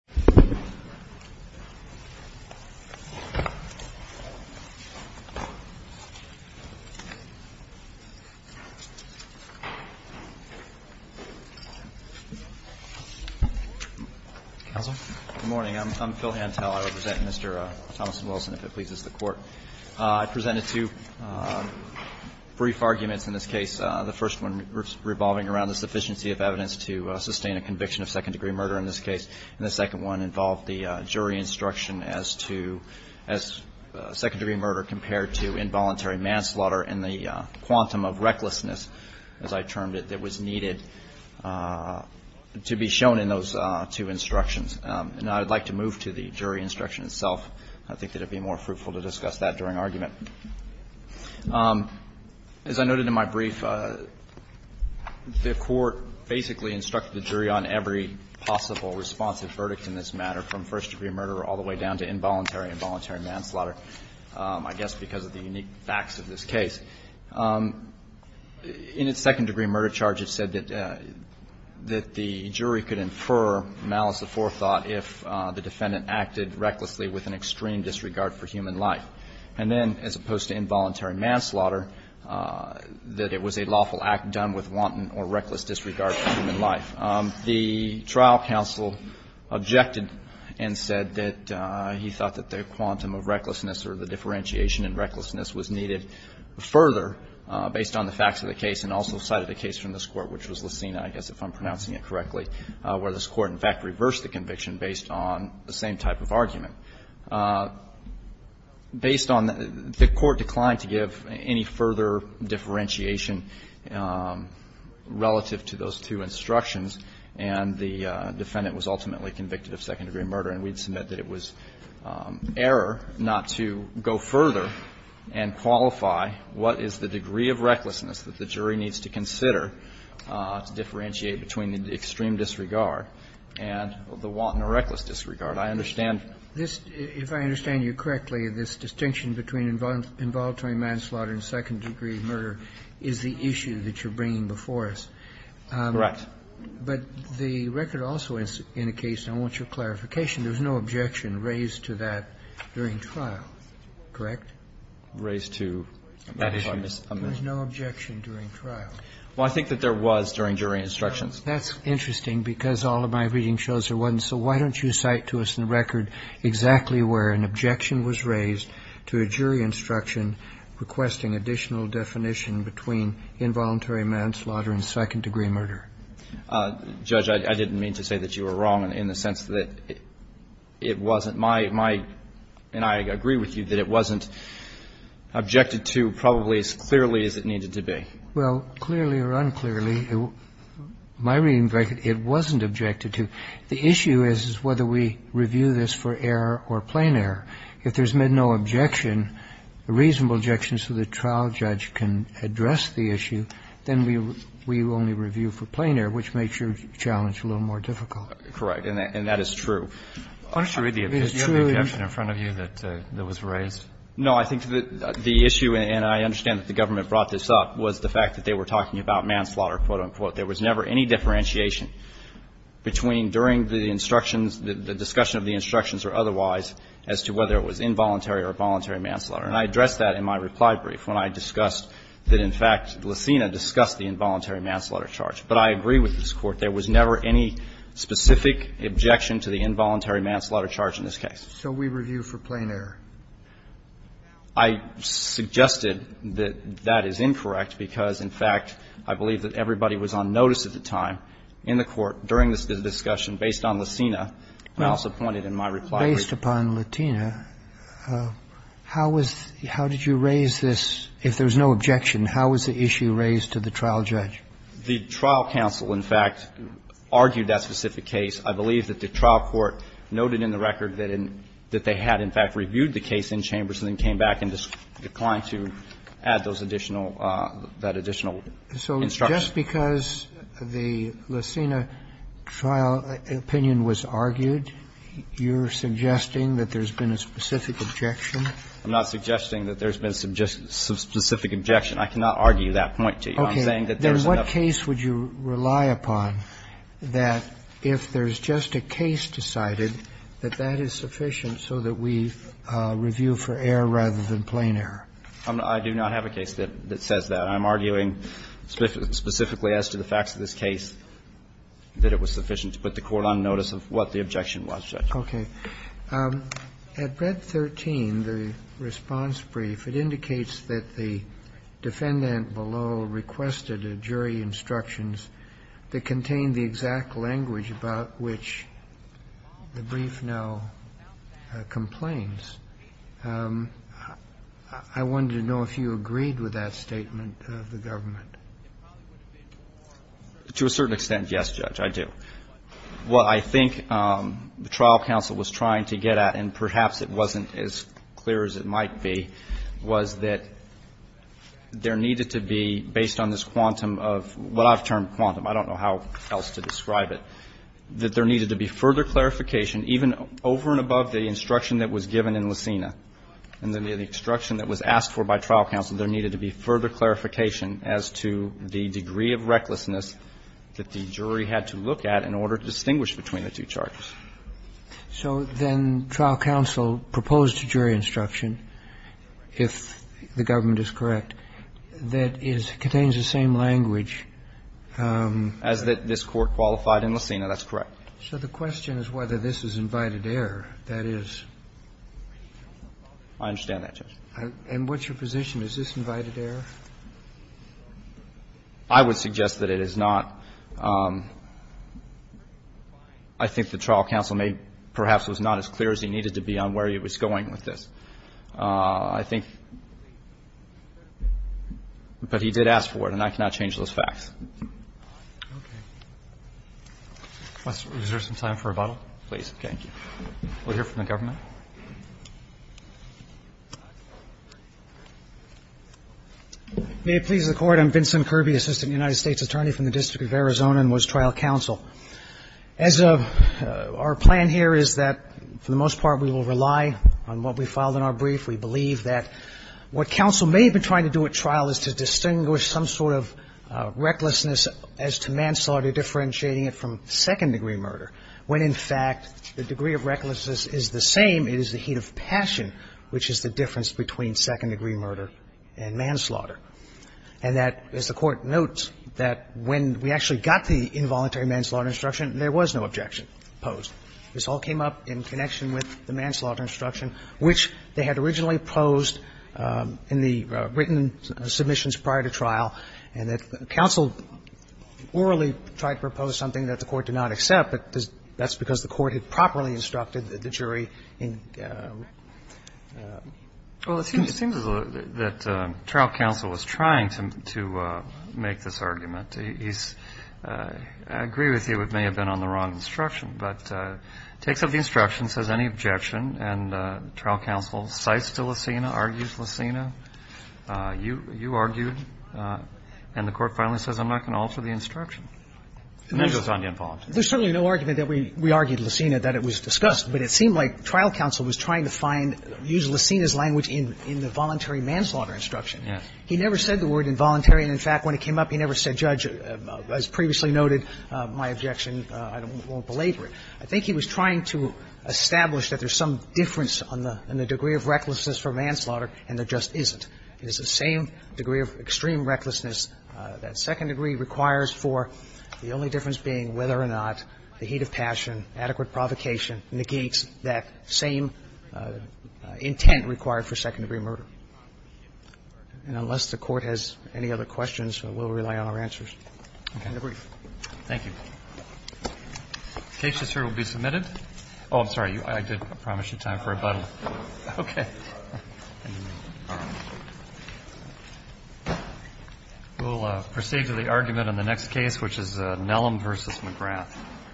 Good morning, I'm Phil Hantel, I represent Mr. Thomas Wilson, if it pleases the Court. I presented two brief arguments in this case, the first one revolving around the sufficiency of evidence to sustain a conviction of second degree murder in this case, and the second one involved the jury instruction as to, as second degree murder compared to involuntary manslaughter and the quantum of recklessness, as I termed it, that was needed to be shown in those two instructions. And I would like to move to the jury instruction itself, I think that it would be more fruitful to discuss that during argument. As I noted in my brief, the Court basically instructed the jury on every possible responsive verdict in this matter, from first degree murder all the way down to involuntary and involuntary manslaughter, I guess because of the unique facts of this case. In its second degree murder charge, it said that the jury could infer malice of forethought if the defendant acted recklessly with an extreme disregard for human life, and then, as opposed to involuntary manslaughter, that it was a lawful act done with wanton or reckless disregard for human life. The trial counsel objected and said that he thought that the quantum of recklessness or the differentiation in recklessness was needed further based on the facts of the case and also cited a case from this Court, which was Lucena, I guess, if I'm pronouncing it correctly, where this Court, in fact, reversed the conviction based on the same type of argument. Based on the Court decline to give any further differentiation relative to those two obstructions, and the defendant was ultimately convicted of second degree murder, and we'd submit that it was error not to go further and qualify what is the degree of recklessness that the jury needs to consider to differentiate between the extreme disregard and the wanton or reckless disregard. I understand this. If I understand you correctly, this distinction between involuntary manslaughter and second degree murder is the issue that you're bringing before us. Correct. But the record also indicates, and I want your clarification, there's no objection raised to that during trial, correct? Raised to that issue. There's no objection during trial. Well, I think that there was during jury instructions. That's interesting because all of my reading shows there wasn't. So why don't you cite to us in the record exactly where an objection was raised to a jury instruction requesting additional definition between involuntary manslaughter and second degree murder. Judge, I didn't mean to say that you were wrong in the sense that it wasn't my – and I agree with you that it wasn't objected to probably as clearly as it needed to be. Well, clearly or unclearly, my reading is that it wasn't objected to. The issue is whether we review this for error or plain error. If there's no objection, a reasonable objection so the trial judge can address the issue, then we only review for plain error, which makes your challenge a little more difficult. Correct. And that is true. Why don't you read the objection? You have the objection in front of you that was raised. No. I think the issue, and I understand that the government brought this up, was the fact that they were talking about manslaughter, quote, unquote. There was never any differentiation between during the instructions, the discussion of the instructions or otherwise, as to whether it was involuntary or voluntary manslaughter. And I addressed that in my reply brief when I discussed that, in fact, Lucina discussed the involuntary manslaughter charge. But I agree with this Court. There was never any specific objection to the involuntary manslaughter charge in this case. So we review for plain error. I suggested that that is incorrect because, in fact, I believe that everybody was on notice at the time in the Court during this discussion based on Lucina. I also pointed in my reply brief. Based upon Lucina, how was the – how did you raise this? If there was no objection, how was the issue raised to the trial judge? The trial counsel, in fact, argued that specific case. I believe that the trial court noted in the record that they had, in fact, reviewed the case in chambers and then came back and declined to add those additional – that additional instruction. So just because the Lucina trial opinion was argued, you're suggesting that there's been a specific objection? I'm not suggesting that there's been a specific objection. I cannot argue that point to you. I'm saying that there's enough – Okay. Then what case would you rely upon that if there's just a case decided, that that is sufficient so that we review for error rather than plain error? I do not have a case that says that. I'm arguing specifically as to the facts of this case that it was sufficient to put the court on notice of what the objection was, Judge. Okay. At Brett 13, the response brief, it indicates that the defendant below requested a jury instructions that contained the exact language about which the brief now complains. I wanted to know if you agreed with that statement of the government. To a certain extent, yes, Judge, I do. What I think the trial counsel was trying to get at, and perhaps it wasn't as clear as it might be, was that there needed to be, based on this quantum of what I've termed quantum – I don't know how else to describe it – that there needed to be And then the instruction that was asked for by trial counsel, there needed to be further clarification as to the degree of recklessness that the jury had to look at in order to distinguish between the two charges. So then trial counsel proposed a jury instruction, if the government is correct, that is – contains the same language. As that this court qualified in Lucena, that's correct. So the question is whether this is invited error, that is. I understand that, Judge. And what's your position? Is this invited error? I would suggest that it is not. I think the trial counsel may – perhaps was not as clear as he needed to be on where he was going with this. I think – but he did ask for it, and I cannot change those facts. Okay. Professor, is there some time for rebuttal, please? Okay, thank you. We'll hear from the government. May it please the Court, I'm Vincent Kirby, Assistant United States Attorney from the District of Arizona, and was trial counsel. As of – our plan here is that, for the most part, we will rely on what we filed in our brief. We believe that what counsel may have been trying to do at trial is to distinguish some sort of recklessness as to manslaughter, differentiating it from second-degree murder, when in fact the degree of recklessness is the same, it is the heat of passion which is the difference between second-degree murder and manslaughter. And that, as the Court notes, that when we actually got the involuntary manslaughter instruction, there was no objection posed. This all came up in connection with the manslaughter instruction, which they had originally posed in the written submissions prior to trial, and that counsel orally tried to propose something that the Court did not accept, but that's because the Court had properly instructed the jury in the written instructions. Well, it seems as though that trial counsel was trying to make this argument. He's – I agree with you it may have been on the wrong instruction, but it takes up The instruction says any objection, and trial counsel cites to Licina, argues Licina. You argued, and the Court finally says, I'm not going to alter the instruction. And then goes on to involuntary. There's certainly no argument that we argued Licina, that it was discussed, but it seemed like trial counsel was trying to find – use Licina's language in the voluntary manslaughter instruction. He never said the word involuntary, and in fact, when it came up, he never said, Judge, as previously noted, my objection, I won't belabor it. I think he was trying to establish that there's some difference in the degree of recklessness for manslaughter, and there just isn't. It's the same degree of extreme recklessness that second degree requires for, the only difference being whether or not the heat of passion, adequate provocation, negates that same intent required for second-degree murder. And unless the Court has any other questions, we'll rely on our answers. Okay. Roberts, thank you. The case is here to be submitted. Oh, I'm sorry. I did promise you time for a button. Okay. We'll proceed to the argument on the next case, which is Nellam v. McGrath.